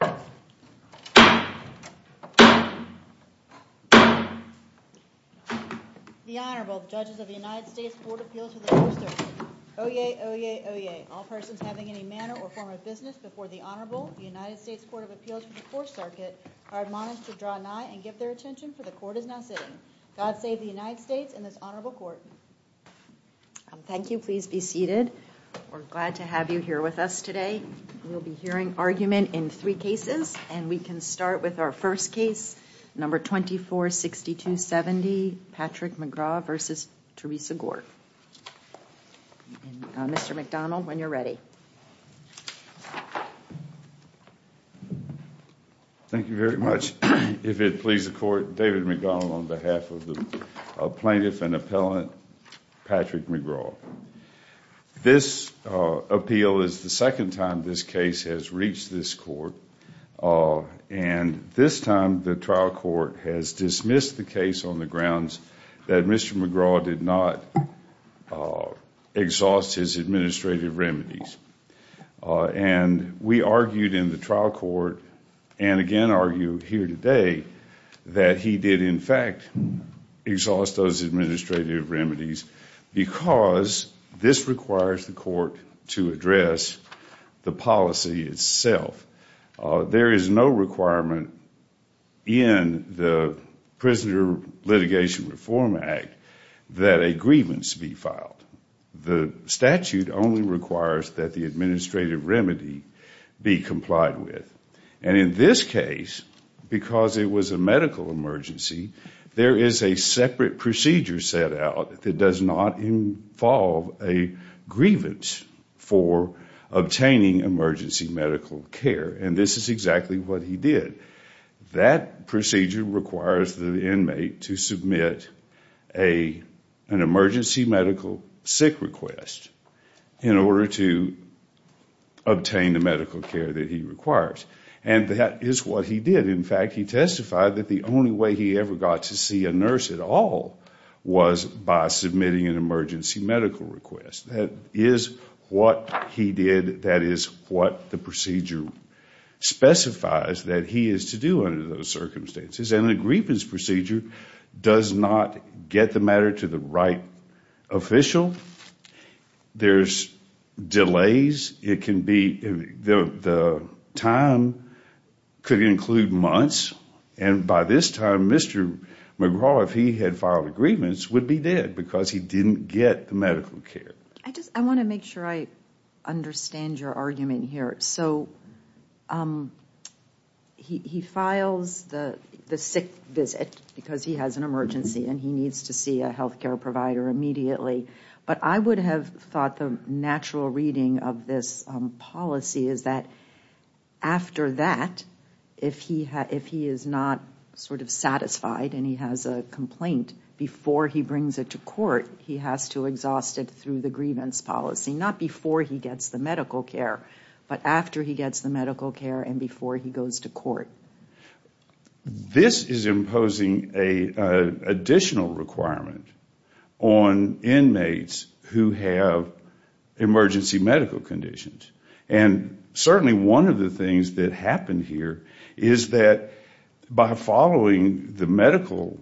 The Honorable Judges of the United States Court of Appeals for the Fourth Circuit. Oyez, oyez, oyez. All persons having any manner or form of business before the Honorable United States Court of Appeals for the Fourth Circuit are admonished to draw nigh and give their attention, for the Court is now sitting. God save the United States and this Honorable Court. Thank you. Please be seated. We're glad to have you here with us today. We'll be hearing argument in three cases, and we can start with our first case, number 246270, Patrick McGraw v. Theresa Gore. Mr. McDonnell, when you're ready. Thank you very much. If it pleases the Court, David McDonnell on behalf of the plaintiff and appellant, Patrick McGraw. This appeal is the second time this case has reached this Court, and this time the trial court has dismissed the case on the grounds that Mr. McGraw did not exhaust his administrative remedies. And we argued in the trial court, and again argue here today, that he did, in fact, exhaust those administrative remedies because this requires the Court to address the policy itself. There is no requirement in the Prisoner Litigation Reform Act that a grievance be filed. The statute only requires that the administrative remedy be complied with. And in this case, because it was a medical emergency, there is a separate procedure set out that does not involve a grievance for obtaining emergency medical care, and this is exactly what he did. That procedure requires the inmate to submit an emergency medical sick request in order to obtain the medical care that he requires. And that is what he did. In fact, he testified that the only way he ever got to see a nurse at all was by submitting an emergency medical request. That is what he did. That is what the procedure specifies that he is to do under those circumstances, and a grievance procedure does not get the matter to the right official. There are delays. The time could include months, and by this time, Mr. McGraw, if he had filed a grievance, would be dead because he did not get the medical care. I want to make sure I understand your argument here. He files the sick visit because he has an emergency and he needs to see a health care provider immediately, but I would have thought the natural reading of this policy is that after that, if he is not sort of satisfied and he has a complaint, before he brings it to court, he has to exhaust it through the grievance policy. Not before he gets the medical care, but after he gets the medical care and before he goes to court. This is imposing an additional requirement on inmates who have emergency medical conditions. Certainly, one of the things that happened here is that by following the medical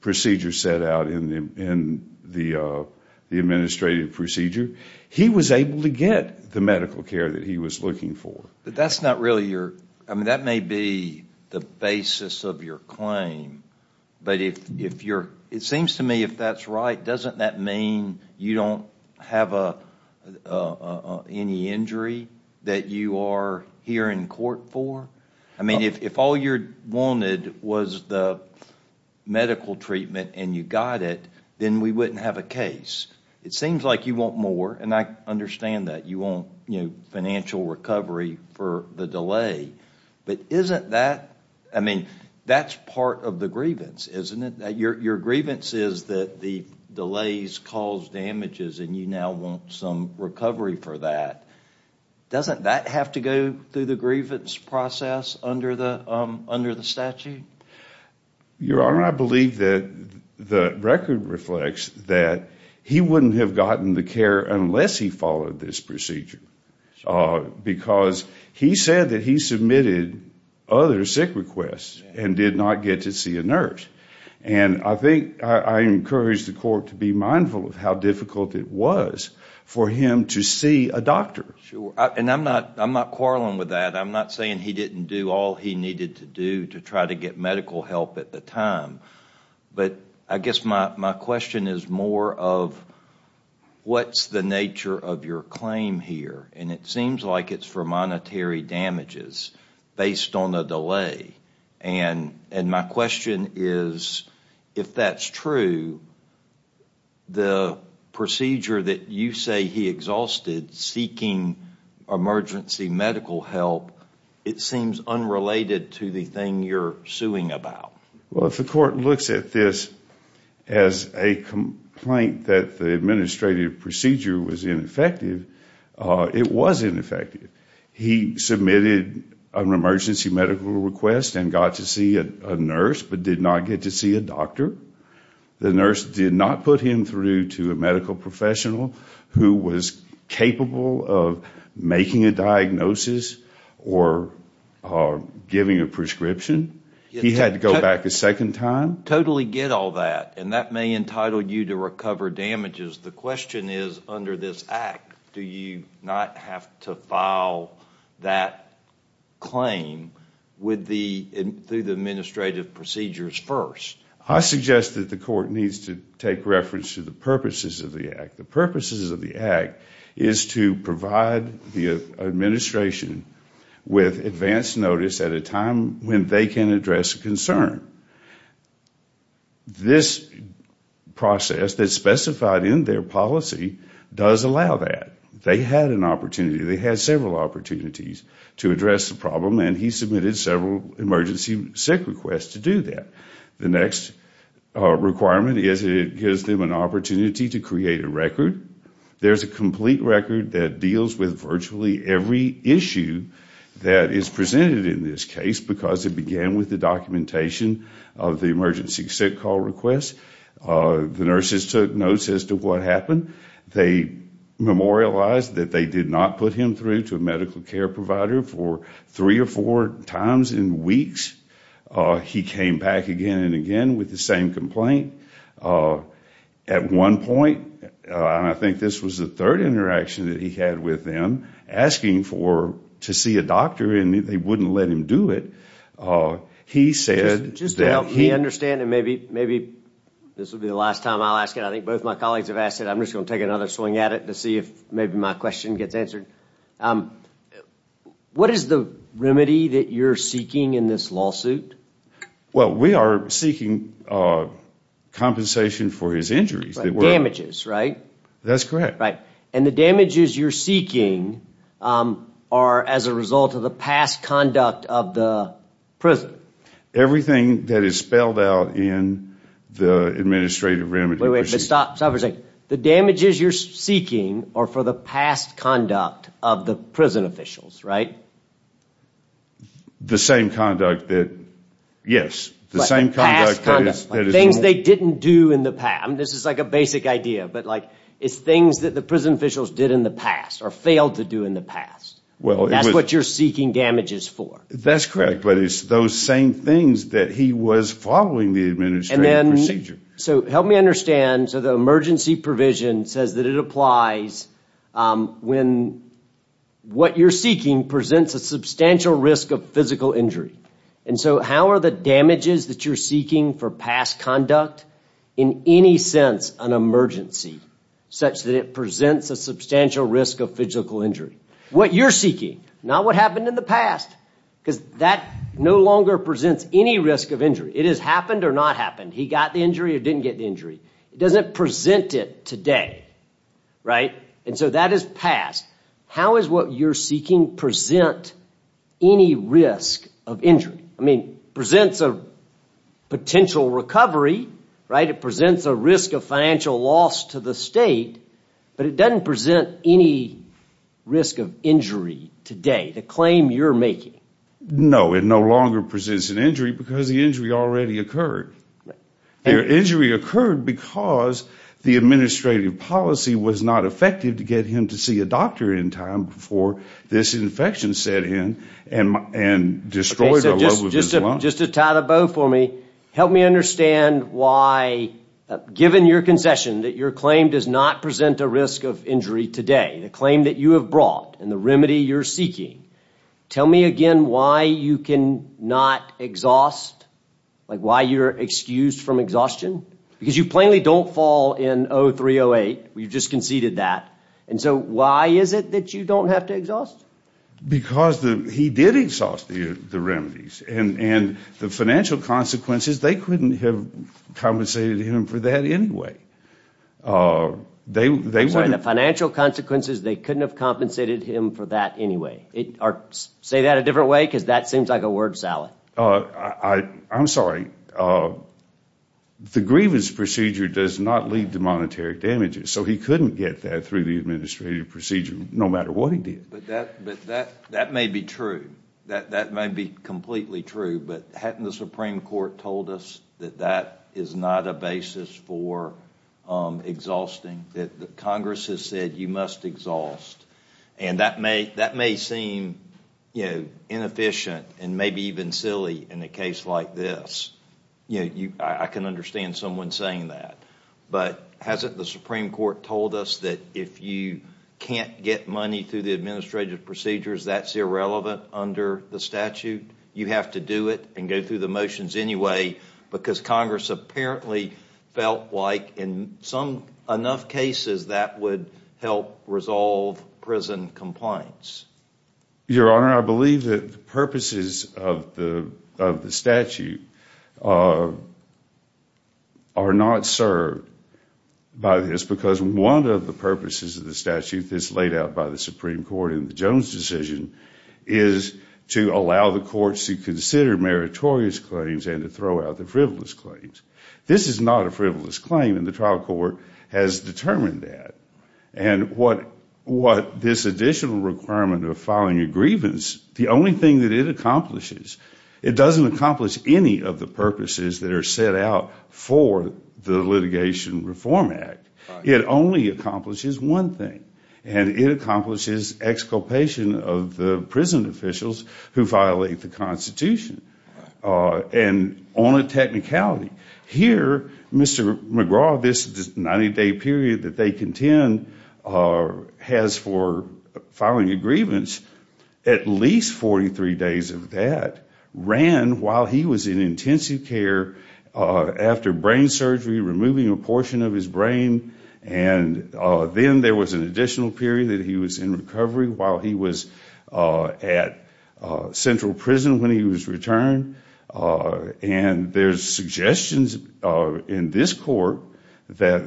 procedure set out in the administrative procedure, he was able to get the medical care that he was looking for. That may be the basis of your claim, but it seems to me if that is right, doesn't that mean you don't have any injury that you are here in court for? If all you wanted was the medical treatment and you got it, then we wouldn't have a case. It seems like you want more and I understand that. You want financial recovery for the delay, but that is part of the grievance, isn't it? Your grievance is that the delays caused damages and you now want some recovery for that. Doesn't that have to go through the grievance process under the statute? Your Honor, I believe that the record reflects that he wouldn't have gotten the care unless he followed this procedure because he said that he submitted other sick requests and did not get to see a nurse. I encourage the court to be mindful of how difficult it was for him to see a doctor. I am not quarreling with that. I am not saying he didn't do all he needed to do to try to get medical help at the time, but I guess my question is more of what is the nature of your claim here? It seems like it is for monetary damages based on the delay. My question is if that is true, the procedure that you say he exhausted seeking emergency medical help, it seems unrelated to the thing you are suing about. Well, if the court looks at this as a complaint that the administrative procedure was ineffective, it was ineffective. He submitted an emergency medical request and got to see a nurse but did not get to see a doctor. The nurse did not put him through to a medical professional who was capable of making a diagnosis or giving a prescription. He had to go back a second time. Totally get all that and that may entitle you to recover damages. The question is under this act, do you not have to file that claim through the administrative procedures first? I suggest that the court needs to take reference to the purposes of the act. The purposes of the act is to provide the administration with advance notice at a time when they can address a concern. This process that is specified in their policy does allow that. They had an opportunity, they had several opportunities to address the problem and he submitted several emergency sick requests to do that. The next requirement is it gives them an opportunity to create a record. There is a complete record that deals with virtually every issue that is presented in this case because it began with the documentation of the emergency sick call request. The nurses took notes as to what happened. They memorialized that they did not put him through to a medical care provider for three or four times in weeks. He came back again and again with the same complaint. At one point, I think this was the third interaction that he had with them, asking to see a doctor and they would not let him do it. He said... Just to help me understand, and maybe this will be the last time I will ask it, I think both my colleagues have asked it. I am just going to take another swing at it to see if maybe my question gets answered. What is the remedy that you are seeking in this lawsuit? We are seeking compensation for his injuries. Damages, right? That is correct. The damages you are seeking are as a result of the past conduct of the prison? Everything that is spelled out in the administrative remedy. The damages you are seeking are for the past conduct of the prison officials, right? The same conduct, yes. Things they did not do in the past. This is a basic idea, but it is things that the prison officials did in the past or failed to do in the past. That is what you are seeking damages for. That is correct. It is those same things that he was following the administrative procedure. Help me understand. The emergency provision says that it applies when what you are seeking presents a substantial risk of physical injury. How are the damages that you are seeking for past conduct in any sense an emergency, such that it presents a substantial risk of physical injury? What you are seeking, not what happened in the past, because that no longer presents any risk of injury. It has happened or not happened. He got the injury or did not get the injury. It does not present it today. That is past. How is what you are seeking present any risk of injury? It presents a potential recovery. It presents a risk of financial loss to the state, but it does not present any risk of injury today, the claim you are making. No, it no longer presents an injury because the injury already occurred. The injury occurred because the administrative policy was not effective to get him to see a doctor in time before this infection set in and destroyed the level of his lung. Just to tie the bow for me, help me understand why, given your concession that your claim does not present a risk of injury today, the claim that you have brought and the remedy you are seeking, tell me again why you cannot exhaust, why you are excused from exhaustion? You plainly do not fall in 03-08. You just conceded that. Why is it that you do not have to exhaust? Because he did exhaust the remedies. The financial consequences, they could not have compensated him for that anyway. The financial consequences, they could not have compensated him for that anyway. Say that a different way because that seems like a word salad. I am sorry. The grievance procedure does not lead to monetary damages, so he could not get that through the administrative procedure, no matter what he did. That may be true. That may be completely true, but hadn't the Supreme Court told us that that is not a basis for exhausting, that Congress has said you must exhaust, and that may seem inefficient and maybe even silly in a case like this? I can understand someone saying that, but hasn't the Supreme Court told us that if you can't get money through the administrative procedures, that is irrelevant under the statute? You have to do it and go through the motions anyway because Congress apparently felt like in enough cases that would help resolve prison compliance. Your Honor, I believe that the purposes of the statute are not served by this because one of the purposes of the statute that is laid out by the Supreme Court in the Jones decision is to allow the courts to consider meritorious claims and to throw out the frivolous claims. This is not a frivolous claim, and the trial court has determined that, and what this additional requirement of filing a grievance, the only thing that it accomplishes, it doesn't accomplish any of the purposes that are set out for the Litigation Reform Act. It only accomplishes one thing, and it accomplishes exculpation of the prison officials who violate the Constitution. And on a technicality, here, Mr. McGraw, this 90-day period that they contend has for filing a grievance, at least 43 days of that ran while he was in intensive care after brain surgery, removing a portion of his brain, and then there was an additional period that he was in recovery while he was at Central Prison when he was returned. And there's suggestions in this Court that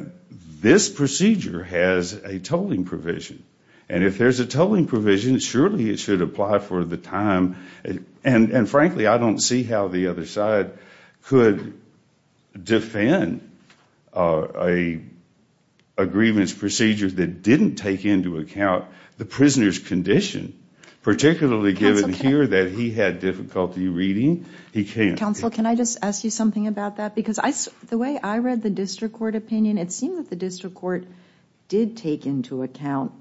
this procedure has a tolling provision. And if there's a tolling provision, surely it should apply for the time, and frankly I don't see how the other side could defend a grievance procedure that didn't take into account the prisoner's condition, particularly given here that he had difficulty reading. He can't. Counsel, can I just ask you something about that? Because the way I read the district court opinion, it seemed that the district court did take into account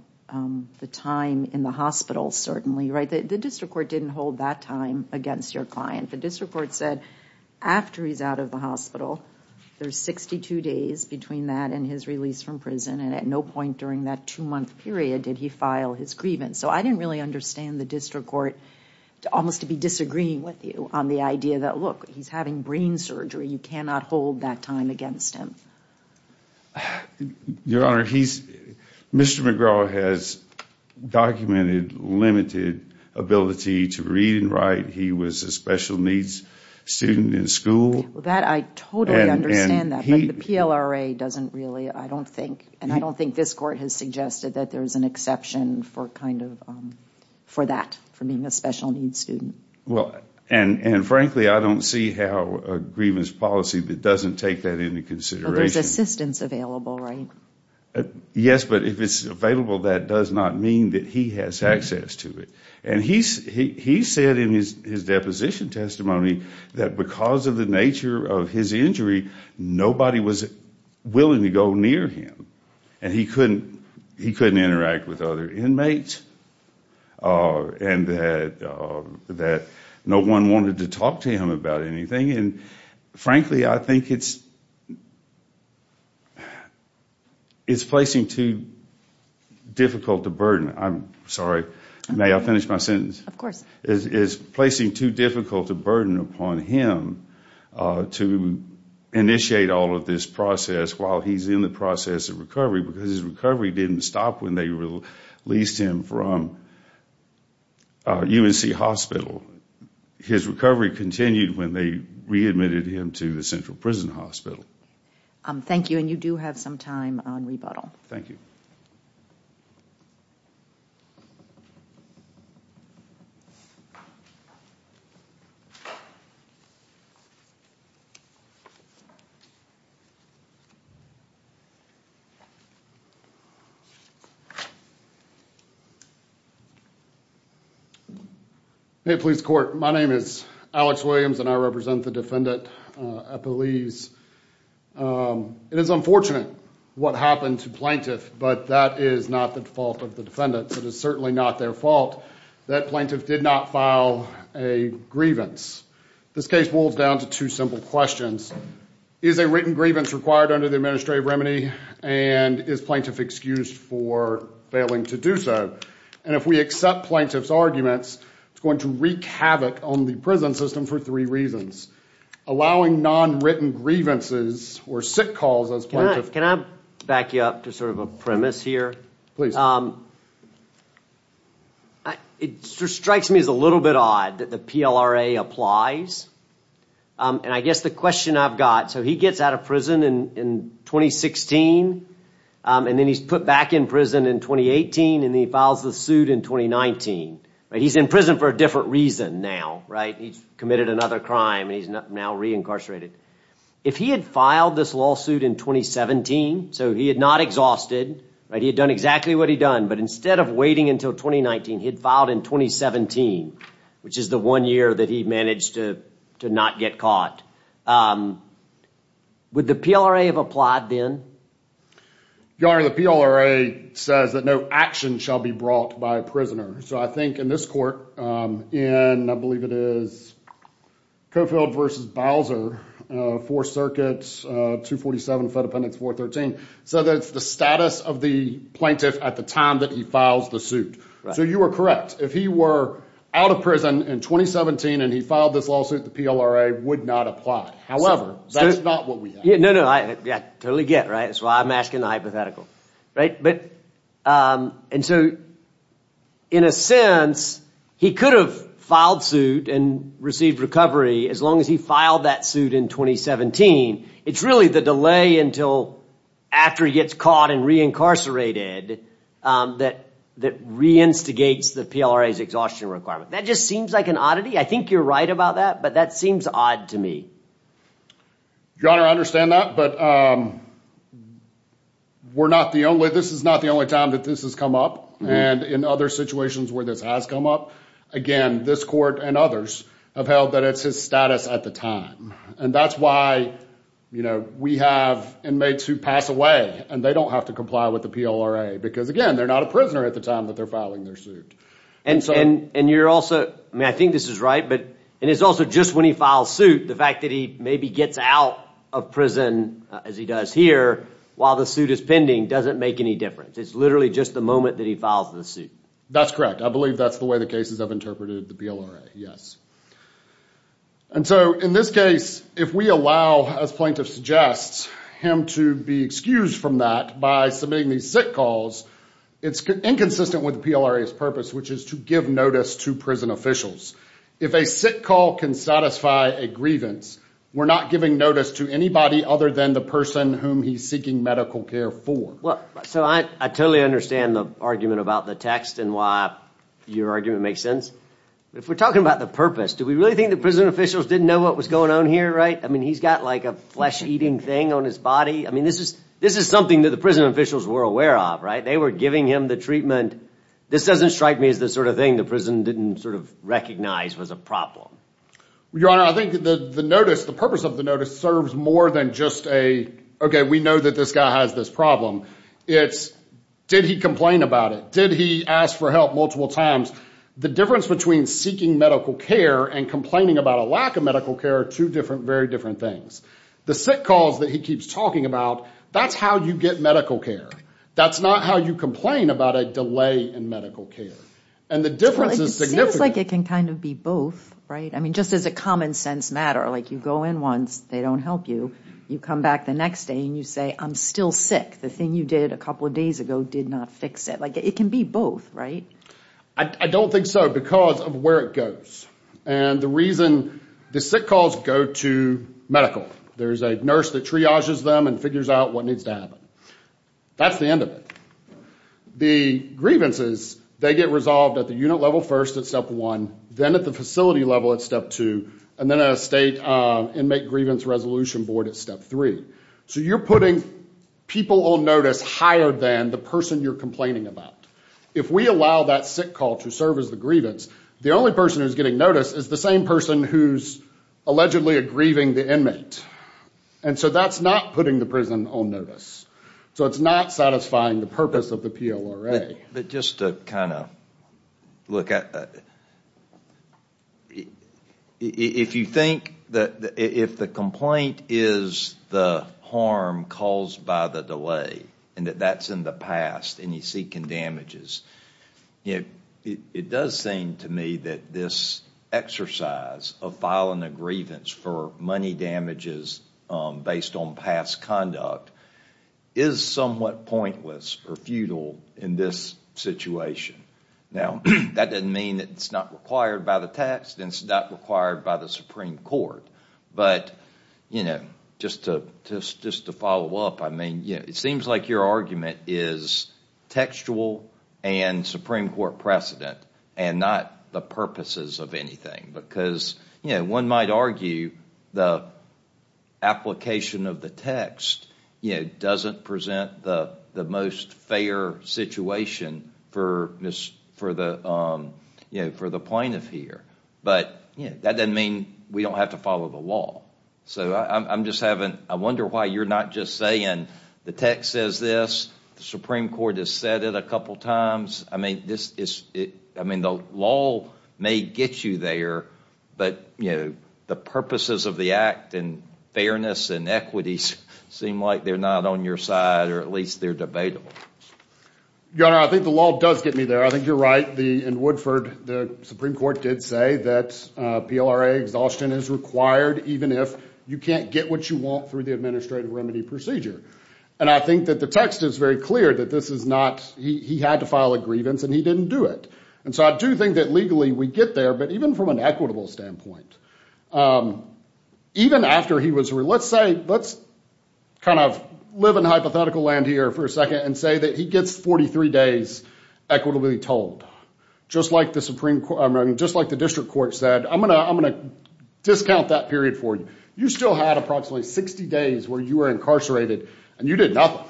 the time in the hospital, certainly, right? The district court didn't hold that time against your client. The district court said after he's out of the hospital, there's 62 days between that and his release from prison, and at no point during that two-month period did he file his grievance. So I didn't really understand the district court almost to be disagreeing with you on the idea that, look, he's having brain surgery, you cannot hold that time against him. Your Honor, Mr. McGraw has documented limited ability to read and write. He was a special needs student in school. That I totally understand that, but the PLRA doesn't really, I don't think, and I don't think this court has suggested that there's an exception for that, for being a special needs student. And frankly, I don't see how a grievance policy that doesn't take that into consideration There's assistance available, right? Yes, but if it's available, that does not mean that he has access to it. And he said in his deposition testimony that because of the nature of his injury, nobody was willing to go near him, and he couldn't interact with other inmates, and that no one wanted to talk to him about anything, and frankly, I think it's placing too difficult a burden. I'm sorry, may I finish my sentence? Of course. It's placing too difficult a burden upon him to initiate all of this process while he's in the process of recovery, because his recovery didn't stop when they released him from UNC Hospital. His recovery continued when they readmitted him to the Central Prison Hospital. Thank you, and you do have some time on rebuttal. Thank you. Hey, police court. My name is Alex Williams, and I represent the defendant, Epeliz. It is unfortunate what happened to Plaintiff, but that is not the fault of the defendant. It is certainly not their fault that Plaintiff did not file a grievance. This case boils down to two simple questions. Is a written grievance required under the administrative remedy, and is Plaintiff excused for failing to do so? And if we accept Plaintiff's arguments, it's going to wreak havoc on the prison system for three reasons. Allowing non-written grievances or sick calls as Plaintiff... Can I back you up to sort of a premise here? It strikes me as a little bit odd that the PLRA applies, and I guess the question I've got... So he gets out of prison in 2016, and then he's put back in prison in 2018, and he files the suit in 2019. He's in prison for a different reason now, right? He's committed another crime, and he's now reincarcerated. If he had filed this lawsuit in 2017, so he had not exhausted, he had done exactly what he'd done, but instead of waiting until 2019, he'd filed in 2017, which is the one year that he managed to not get caught. Would the PLRA have applied then? Your Honor, the PLRA says that no action shall be brought by a prisoner. So I think in this court, in I believe it is Cofield versus Bowser, Fourth Circuit 247, Fed Appendix 413, so that's the status of the Plaintiff at the time that he files the So you are correct. If he were out of prison in 2017, and he filed this lawsuit, the PLRA would not apply. However, that's not what we have. No, no. I totally get, right? That's why I'm asking the hypothetical. Right? But, and so in a sense, he could have filed suit and received recovery as long as he filed that suit in 2017. It's really the delay until after he gets caught and reincarcerated that reinstigates the PLRA's exhaustion requirement. That just seems like an oddity. I think you're right about that, but that seems odd to me. Your Honor, I understand that, but we're not the only, this is not the only time that this has come up and in other situations where this has come up, again, this court and others have held that it's his status at the time. And that's why, you know, we have inmates who pass away and they don't have to comply with the PLRA because again, they're not a prisoner at the time that they're filing their suit. And, and, and you're also, I mean, I think this is right, but, and it's also just when he files suit, the fact that he maybe gets out of prison as he does here, while the suit is pending, doesn't make any difference. It's literally just the moment that he files the suit. That's correct. I believe that's the way the cases have interpreted the PLRA, yes. And so in this case, if we allow, as plaintiff suggests, him to be excused from that by submitting these SIT calls, it's inconsistent with the PLRA's purpose, which is to give notice to prison officials. If a SIT call can satisfy a grievance, we're not giving notice to anybody other than the person whom he's seeking medical care for. Well, so I, I totally understand the argument about the text and why your argument makes sense. But if we're talking about the purpose, do we really think that prison officials didn't know what was going on here? Right? I mean, he's got like a flesh eating thing on his body. I mean, this is, this is something that the prison officials were aware of, right? They were giving him the treatment. This doesn't strike me as the sort of thing. The prison didn't sort of recognize was a problem. Your Honor, I think the, the notice, the purpose of the notice serves more than just a, okay, we know that this guy has this problem. It's did he complain about it? Did he ask for help multiple times? The difference between seeking medical care and complaining about a lack of medical care are two different, very different things. The SIT calls that he keeps talking about, that's how you get medical care. That's not how you complain about a delay in medical care. And the difference is significant. Well, it seems like it can kind of be both, right? I mean, just as a common sense matter, like you go in once, they don't help you. You come back the next day and you say, I'm still sick. The thing you did a couple of days ago did not fix it. Like it can be both, right? I don't think so because of where it goes. And the reason the SIT calls go to medical, there's a nurse that triages them and figures out what needs to happen. That's the end of it. The grievances, they get resolved at the unit level first at step one, then at the facility level at step two, and then at a state inmate grievance resolution board at step three. So you're putting people on notice higher than the person you're complaining about. If we allow that SIT call to serve as the grievance, the only person who's getting noticed is the same person who's allegedly grieving the inmate. And so that's not putting the prison on notice. So it's not satisfying the purpose of the PLRA. But just to kind of look at that, if you think that if the complaint is the harm caused by the delay and that that's in the past and you're seeking damages, it does seem to me that this exercise of filing a grievance for money damages based on past conduct is somewhat pointless or futile in this situation. Now that doesn't mean that it's not required by the text and it's not required by the Supreme Court. But just to follow up, it seems like your argument is textual and Supreme Court precedent and not the purposes of anything because one might argue the application of the text doesn't present the most fair situation for the plaintiff here. But that doesn't mean we don't have to follow the law. So I wonder why you're not just saying the text says this, the Supreme Court has said it a couple of times. I mean, the law may get you there, but the purposes of the act and fairness and equities seem like they're not on your side or at least they're debatable. Your Honor, I think the law does get me there. I think you're right in Woodford, the Supreme Court did say that PLRA exhaustion is required even if you can't get what you want through the administrative remedy procedure. And I think that the text is very clear that this is not, he had to file a grievance and he didn't do it. And so I do think that legally we get there, but even from an equitable standpoint, even after he was, let's say, let's kind of live in hypothetical land here for a second and say that he gets 43 days equitably told, just like the Supreme Court, just like the district court said, I'm going to discount that period for you. You still had approximately 60 days where you were incarcerated and you did nothing.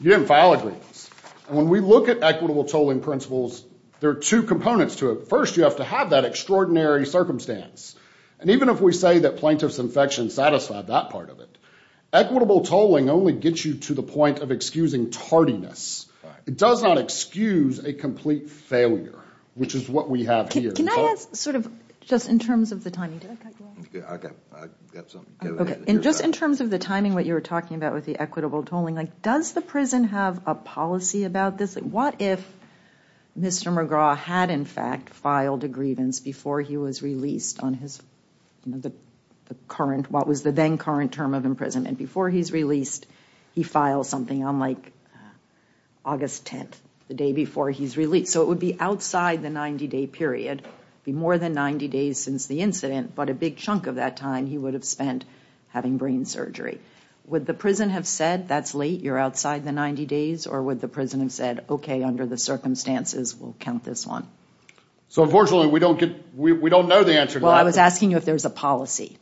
You didn't file a grievance. And when we look at equitable tolling principles, there are two components to it. First, you have to have that extraordinary circumstance. And even if we say that plaintiff's infection satisfied that part of it, equitable tolling only gets you to the point of excusing tardiness. It does not excuse a complete failure, which is what we have here. Can I ask sort of just in terms of the timing? Did I cut you off? Okay. I got something. Okay. And just in terms of the timing, what you were talking about with the equitable tolling, does the prison have a policy about this? What if Mr. McGraw had in fact filed a grievance before he was released on his current, what was the then current term of imprisonment? Before he's released, he files something on like August 10th, the day before he's released. So it would be outside the 90-day period, be more than 90 days since the incident, but a big chunk of that time he would have spent having brain surgery. Would the prison have said, that's late, you're outside the 90 days? Or would the prison have said, okay, under the circumstances, we'll count this one? So unfortunately, we don't get, we don't know the answer to that. Well, I was asking you if there's a policy.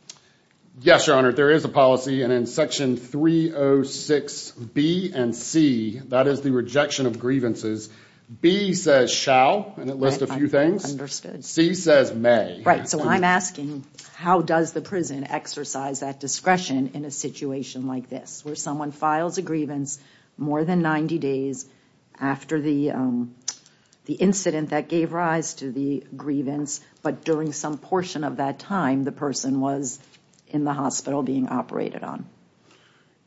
Yes, Your Honor, there is a policy. And in Section 306B and C, that is the rejection of grievances, B says shall, and it lists a few things. C says may. Right. So I'm asking, how does the prison exercise that discretion in a situation like this, where someone files a grievance more than 90 days after the incident that gave rise to the grievance, but during some portion of that time, the person was in the hospital being operated on?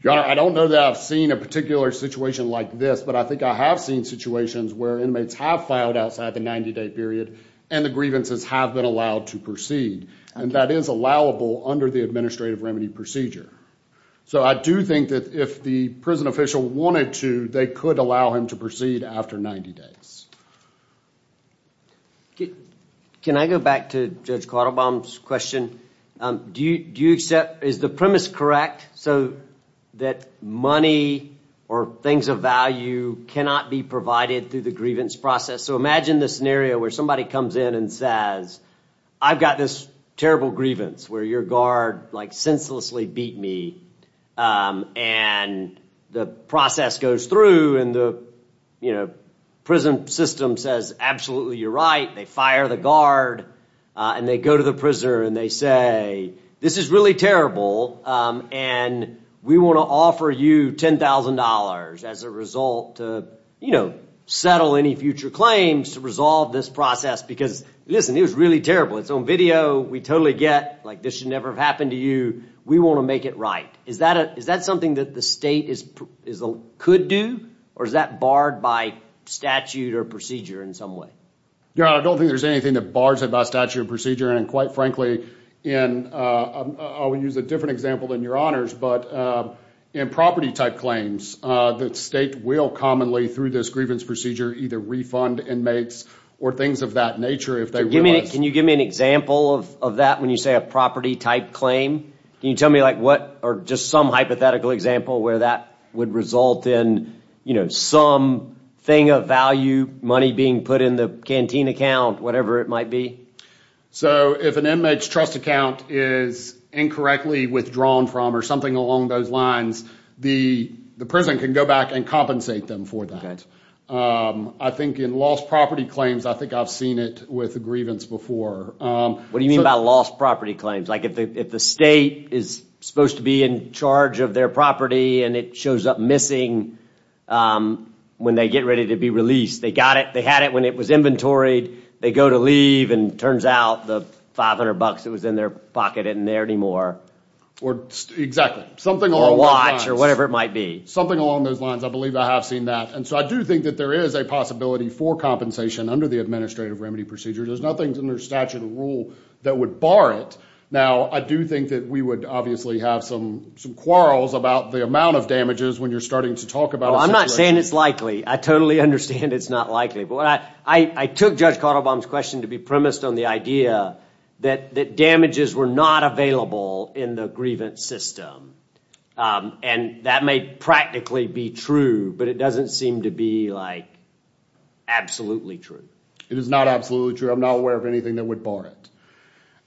Your Honor, I don't know that I've seen a particular situation like this, but I think I have seen situations where inmates have filed outside the 90-day period and the grievances have been allowed to proceed. And that is allowable under the administrative remedy procedure. So I do think that if the prison official wanted to, they could allow him to proceed after 90 days. Can I go back to Judge Cottlebaum's question? Do you accept, is the premise correct, so that money or things of value cannot be provided through the grievance process? So imagine this scenario where somebody comes in and says, I've got this terrible grievance where your guard senselessly beat me. And the process goes through and the prison system says, absolutely, you're right. They fire the guard and they go to the prisoner and they say, this is really terrible and we want to offer you $10,000 as a result to settle any future claims to resolve this process because listen, it was really terrible. It's on video. We totally get, like this should never have happened to you. We want to make it right. Is that something that the state could do or is that barred by statute or procedure in some way? Your Honor, I don't think there's anything that bars it by statute or procedure. And quite frankly, I would use a different example than your honors, but in property type claims, the state will commonly, through this grievance procedure, either refund inmates or things of that nature if they realize. Can you give me an example of that when you say a property type claim? Can you tell me like what or just some hypothetical example where that would result in some thing of value, money being put in the canteen account, whatever it might be? So if an inmate's trust account is incorrectly withdrawn from or something along those lines, the prison can go back and compensate them for that. I think in lost property claims, I think I've seen it with a grievance before. What do you mean by lost property claims? Like if the state is supposed to be in charge of their property and it shows up missing when they get ready to be released, they got it, they had it when it was inventoried, they go to leave and turns out the 500 bucks that was in their pocket isn't there anymore. Or exactly. Something along those lines. Or a watch or whatever it might be. Something along those lines. I believe I have seen that. And so I do think that there is a possibility for compensation under the administrative remedy procedure. There's nothing under statute or rule that would bar it. Now I do think that we would obviously have some quarrels about the amount of damages when you're starting to talk about a situation. I'm not saying it's likely. I totally understand it's not likely. I took Judge Cottlebaum's question to be premised on the idea that damages were not available in the grievance system. And that may practically be true, but it doesn't seem to be like absolutely true. It is not absolutely true. I'm not aware of anything that would bar it.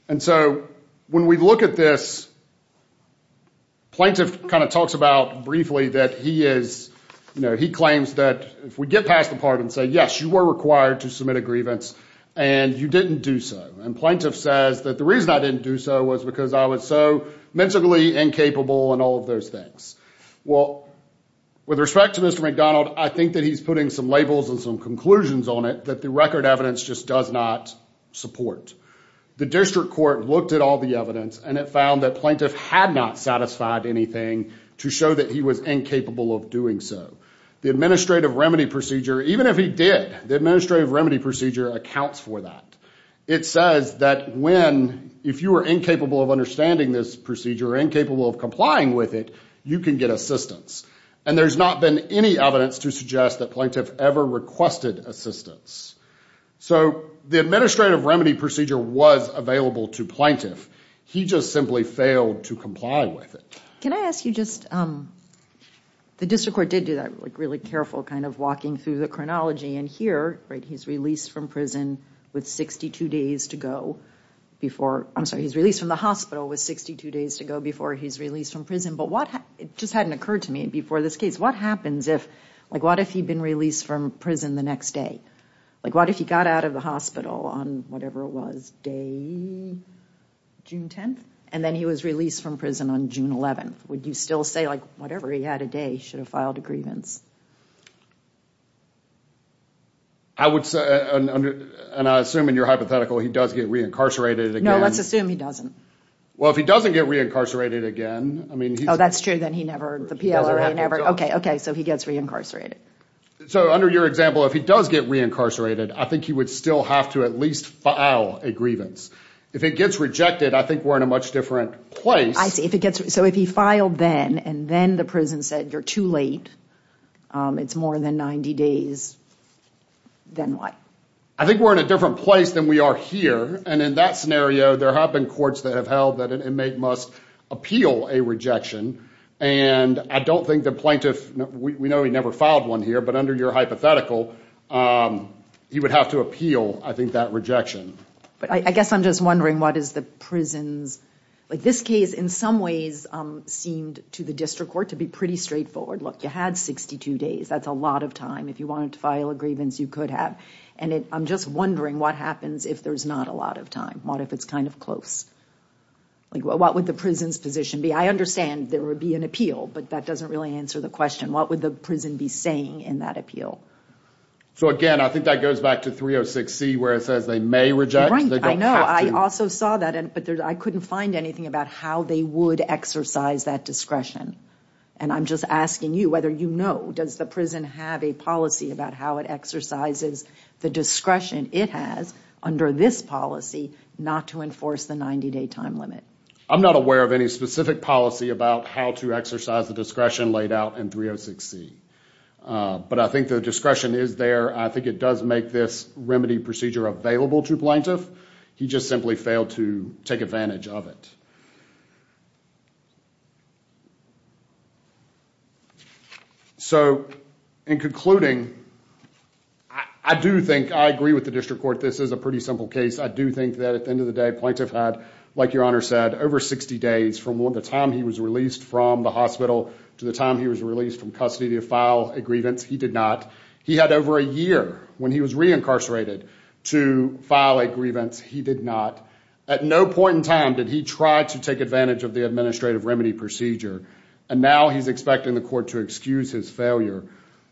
And so when we look at this, Plaintiff kind of talks about briefly that he is, you know, he claims that if we get past the part and say, yes, you were required to submit a grievance and you didn't do so. And Plaintiff says that the reason I didn't do so was because I was so mentally incapable and all of those things. Well, with respect to Mr. McDonald, I think that he's putting some labels and some conclusions on it that the record evidence just does not support. The district court looked at all the evidence and it found that Plaintiff had not satisfied anything to show that he was incapable of doing so. The administrative remedy procedure, even if he did, the administrative remedy procedure accounts for that. It says that when, if you were incapable of understanding this procedure, incapable of complying with it, you can get assistance. And there's not been any evidence to suggest that Plaintiff ever requested assistance. So the administrative remedy procedure was available to Plaintiff. He just simply failed to comply with it. Can I ask you just, the district court did do that, like really careful kind of walking through the chronology and here, right, he's released from prison with 62 days to go before, I'm sorry, he's released from the hospital with 62 days to go before he's released from prison. But what, it just hadn't occurred to me before this case, what happens if, like what if he'd been released from prison the next day? Like what if he got out of the hospital on whatever it was, day, June 10th? And then he was released from prison on June 11th. Would you still say like, whatever, he had a day, should have filed a grievance? I would say, and I assume in your hypothetical he does get reincarcerated again. No, let's assume he doesn't. Well, if he doesn't get reincarcerated again, I mean, he's- Oh, that's true, then he never, the PLRA never, okay, okay, so he gets reincarcerated. So under your example, if he does get reincarcerated, I think he would still have to at least file a grievance. If it gets rejected, I think we're in a much different place. I see, if it gets, so if he filed then and then the prison said, you're too late, it's more than 90 days, then what? I think we're in a different place than we are here. And in that scenario, there have been courts that have held that an inmate must appeal a rejection. And I don't think the plaintiff, we know he never filed one here, but under your hypothetical, he would have to appeal, I think, that rejection. But I guess I'm just wondering what is the prison's, like this case in some ways seemed to the district court to be pretty straightforward. Look, you had 62 days. That's a lot of time. If you wanted to file a grievance, you could have. And I'm just wondering what happens if there's not a lot of time, what if it's kind of close? What would the prison's position be? I understand there would be an appeal, but that doesn't really answer the question. What would the prison be saying in that appeal? So again, I think that goes back to 306C where it says they may reject, they don't have to. Right, I know. I also saw that, but I couldn't find anything about how they would exercise that discretion. And I'm just asking you whether you know, does the prison have a policy about how it exercises the discretion it has under this policy not to enforce the 90 day time limit? I'm not aware of any specific policy about how to exercise the discretion laid out in 306C. But I think the discretion is there. I think it does make this remedy procedure available to plaintiff. He just simply failed to take advantage of it. So, in concluding, I do think, I agree with the district court, this is a pretty simple case. I do think that at the end of the day, plaintiff had, like your honor said, over 60 days from the time he was released from the hospital to the time he was released from custody to file a grievance. He did not. He had over a year when he was re-incarcerated to file a grievance. He did not. At no point in time did he try to take advantage of the administrative remedy procedure. And now he's expecting the court to excuse his failure.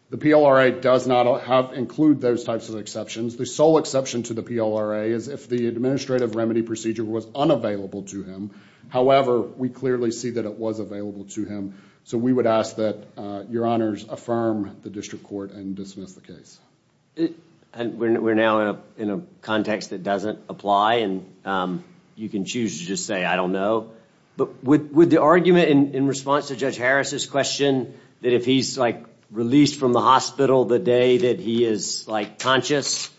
The PLRA does not include those types of exceptions. The sole exception to the PLRA is if the administrative remedy procedure was unavailable to him. However, we clearly see that it was available to him. So we would ask that your honors affirm the district court and dismiss the case. We're now in a context that doesn't apply and you can choose to just say I don't know. But would the argument in response to Judge Harris' question that if he's like released from the hospital the day that he is like conscious,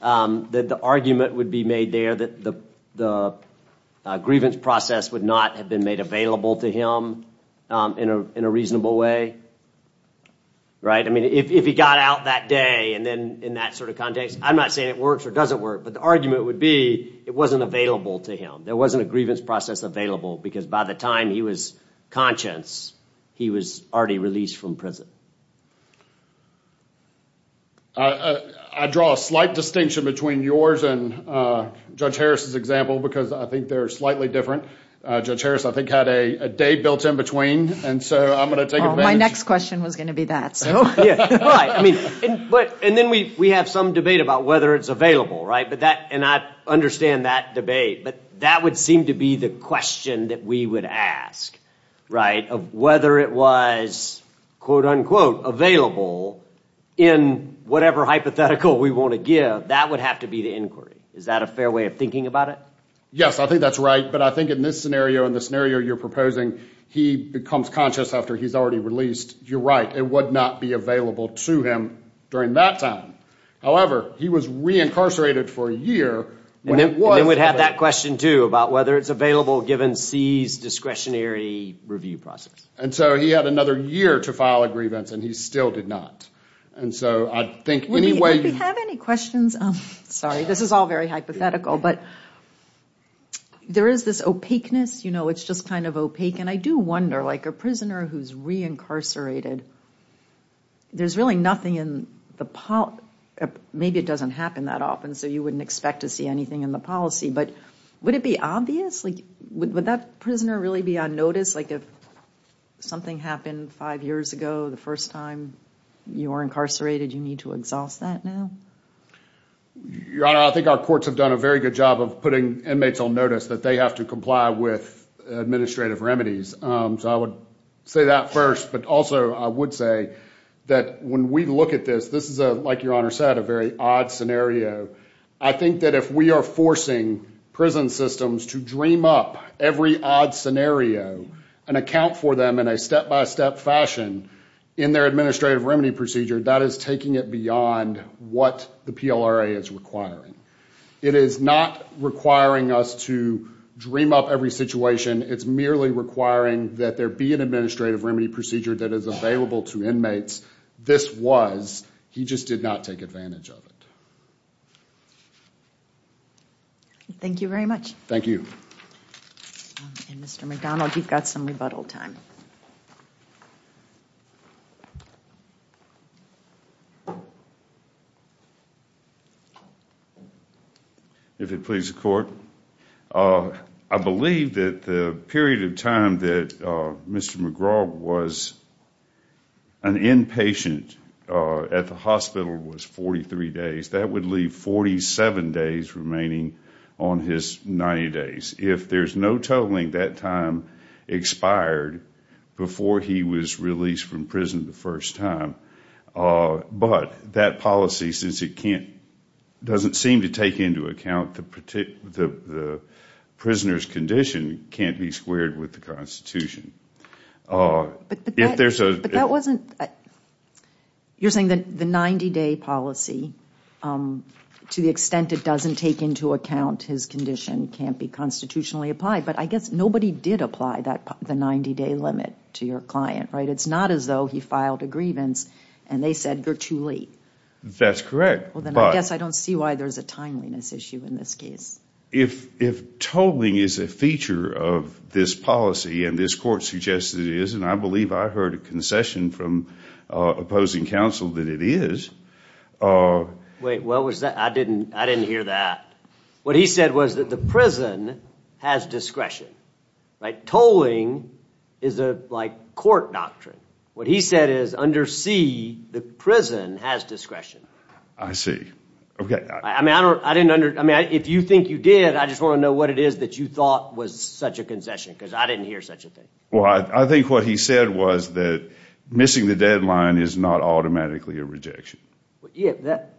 that the argument would be made there that the grievance process would not have been made available to him in a reasonable way? Right? I mean, if he got out that day and then in that sort of context, I'm not saying it works or doesn't work. But the argument would be it wasn't available to him. There wasn't a grievance process available because by the time he was conscious, he was already released from prison. I draw a slight distinction between yours and Judge Harris' example because I think they're slightly different. Judge Harris, I think, had a day built in between. And so I'm going to take advantage. My next question was going to be that. And then we have some debate about whether it's available, right? And I understand that debate. But that would seem to be the question that we would ask, right, of whether it was quote unquote available in whatever hypothetical we want to give. That would have to be the inquiry. Is that a fair way of thinking about it? Yes. I think that's right. But I think in this scenario and the scenario you're proposing, he becomes conscious after he's already released. You're right. It would not be available to him during that time. However, he was reincarcerated for a year. And then we'd have that question, too, about whether it's available given C's discretionary review process. And so he had another year to file a grievance and he still did not. And so I think anyway- If you have any questions, sorry, this is all very hypothetical. But there is this opaqueness. You know, it's just kind of opaque. And I do wonder, like a prisoner who's reincarcerated, there's really nothing in the- maybe it doesn't happen that often, so you wouldn't expect to see anything in the policy, but would it be obvious? Like, would that prisoner really be on notice? Like if something happened five years ago, the first time you were incarcerated, you need to exhaust that now? Your Honor, I think our courts have done a very good job of putting inmates on notice that they have to comply with administrative remedies. So I would say that first, but also I would say that when we look at this, this is, like Your Honor said, a very odd scenario. I think that if we are forcing prison systems to dream up every odd scenario and account for them in a step-by-step fashion in their administrative remedy procedure, that is taking it beyond what the PLRA is requiring. It is not requiring us to dream up every situation. It's merely requiring that there be an administrative remedy procedure that is available to inmates. This was. He just did not take advantage of it. Thank you very much. Thank you. Mr. McDonald, you've got some rebuttal time. If it pleases the Court, I believe that the period of time that Mr. McGraw was an inpatient at the hospital was 43 days. That would leave 47 days remaining on his 90 days. If there's no totaling, that time expired before he was released from prison the first time. But that policy, since it doesn't seem to take into account the prisoner's condition, can't be squared with the Constitution. You're saying that the 90-day policy, to the extent it doesn't take into account his condition, can't be constitutionally applied, but I guess nobody did apply the 90-day limit to your client, right? It's not as though he filed a grievance and they said, you're too late. That's correct. I guess I don't see why there's a timeliness issue in this case. If tolling is a feature of this policy, and this Court suggests it is, and I believe I heard a concession from opposing counsel that it is... Wait, what was that? I didn't hear that. What he said was that the prison has discretion. Tolling is a court doctrine. What he said is, under C, the prison has discretion. I see. If you think you did, I just want to know what it is that you thought was such a concession, because I didn't hear such a thing. I think what he said was that missing the deadline is not automatically a rejection.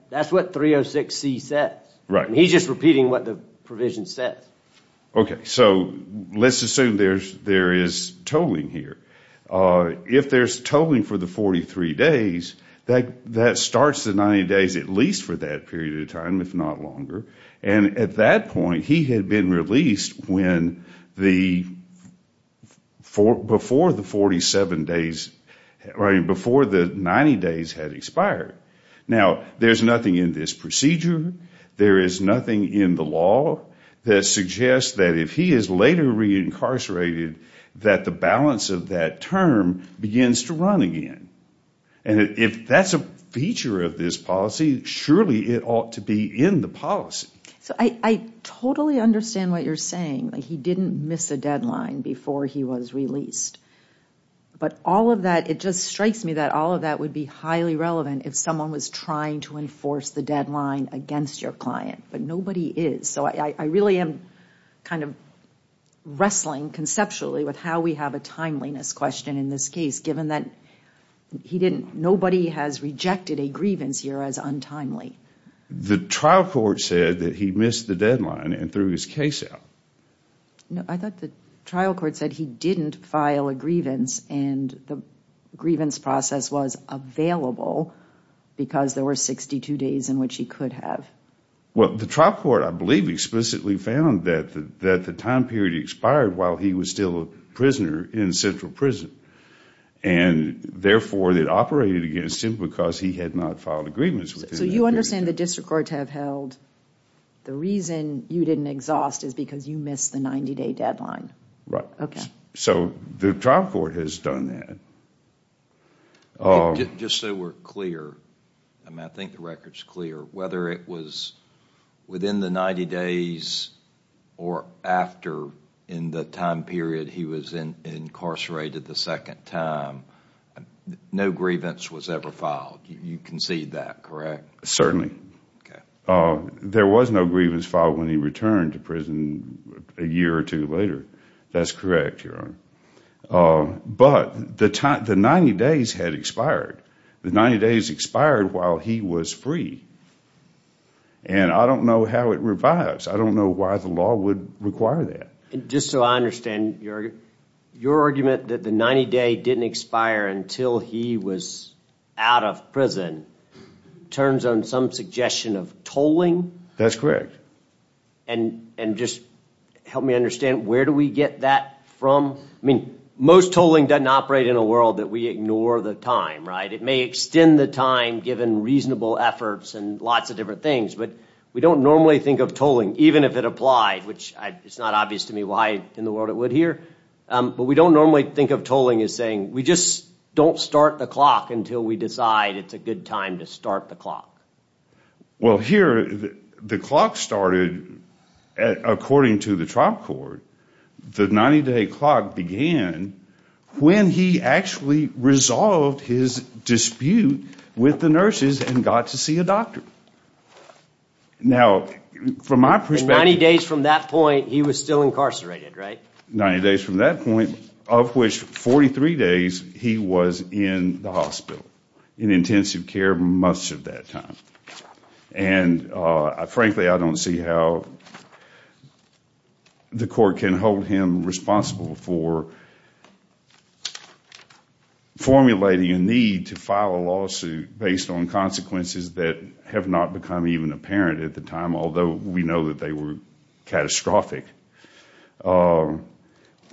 That's what 306C says. He's just repeating what the provision says. Let's assume there is tolling here. If there's tolling for the 43 days, that starts the 90 days at least for that period of time, if not longer. At that point, he had been released before the 90 days had expired. There's nothing in this procedure. There is nothing in the law that suggests that if he is later re-incarcerated, that the balance of that term begins to run again. If that's a feature of this policy, surely it ought to be in the policy. I totally understand what you're saying. He didn't miss a deadline before he was released. It just strikes me that all of that would be highly relevant if someone was trying to enforce the deadline against your client, but nobody is. I really am wrestling conceptually with how we have a timeliness question in this case, given that nobody has rejected a grievance here as untimely. The trial court said that he missed the deadline and threw his case out. I thought the trial court said he didn't file a grievance and the grievance process was available because there were 62 days in which he could have. The trial court, I believe, explicitly found that the time period expired while he was still a prisoner in central prison. Therefore, it operated against him because he had not filed a grievance. You understand the district courts have held the reason you didn't exhaust is because you missed the 90 day deadline. The trial court has done that. Just so we're clear, I think the record is clear, whether it was within the 90 days or after in the time period he was incarcerated the second time, no grievance was ever filed. You concede that, correct? Certainly. There was no grievance filed when he returned to prison a year or two later. That's correct, Your Honor. But the 90 days had expired. The 90 days expired while he was free. I don't know how it revives. I don't know why the law would require that. Just so I understand, your argument that the 90 day didn't expire until he was out of prison turns on some suggestion of tolling? That's correct. Just help me understand, where do we get that from? Most tolling doesn't operate in a world that we ignore the time. It may extend the time given reasonable efforts and lots of different things, but we don't normally think of tolling, even if it applied, which it's not obvious to me why in the world it would here, but we don't normally think of tolling as saying we just don't start the clock until we decide it's a good time to start the clock. Well, here, the clock started, according to the trial court, the 90 day clock began when he actually resolved his dispute with the nurses and got to see a doctor. Now, from my perspective... Ninety days from that point, he was still incarcerated, right? Ninety days from that point, of which 43 days, he was in the hospital in intensive care most of that time. And frankly, I don't see how the court can hold him responsible for formulating a need to file a lawsuit based on consequences that have not become even apparent at the time, although we know that they were catastrophic,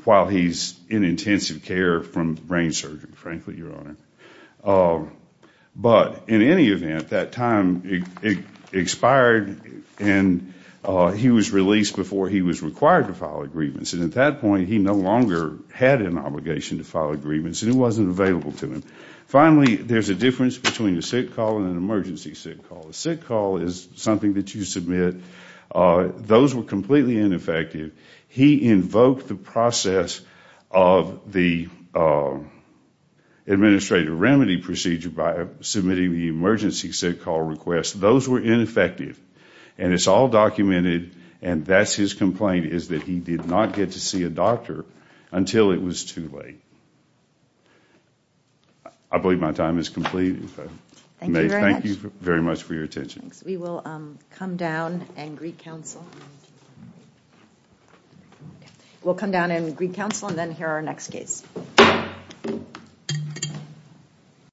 while he's in intensive care from brain surgery, frankly, Your Honor. But, in any event, that time expired and he was released before he was required to file agreements. And at that point, he no longer had an obligation to file agreements and it wasn't available to him. Finally, there's a difference between a sick call and an emergency sick call. A sick call is something that you submit, those were completely ineffective. He invoked the process of the administrative remedy procedure by submitting the emergency sick call request. Those were ineffective. And it's all documented, and that's his complaint, is that he did not get to see a doctor until it was too late. I believe my time is completed. Thank you very much for your attention. We will come down and greet counsel. We'll come down and greet counsel and then hear our next case.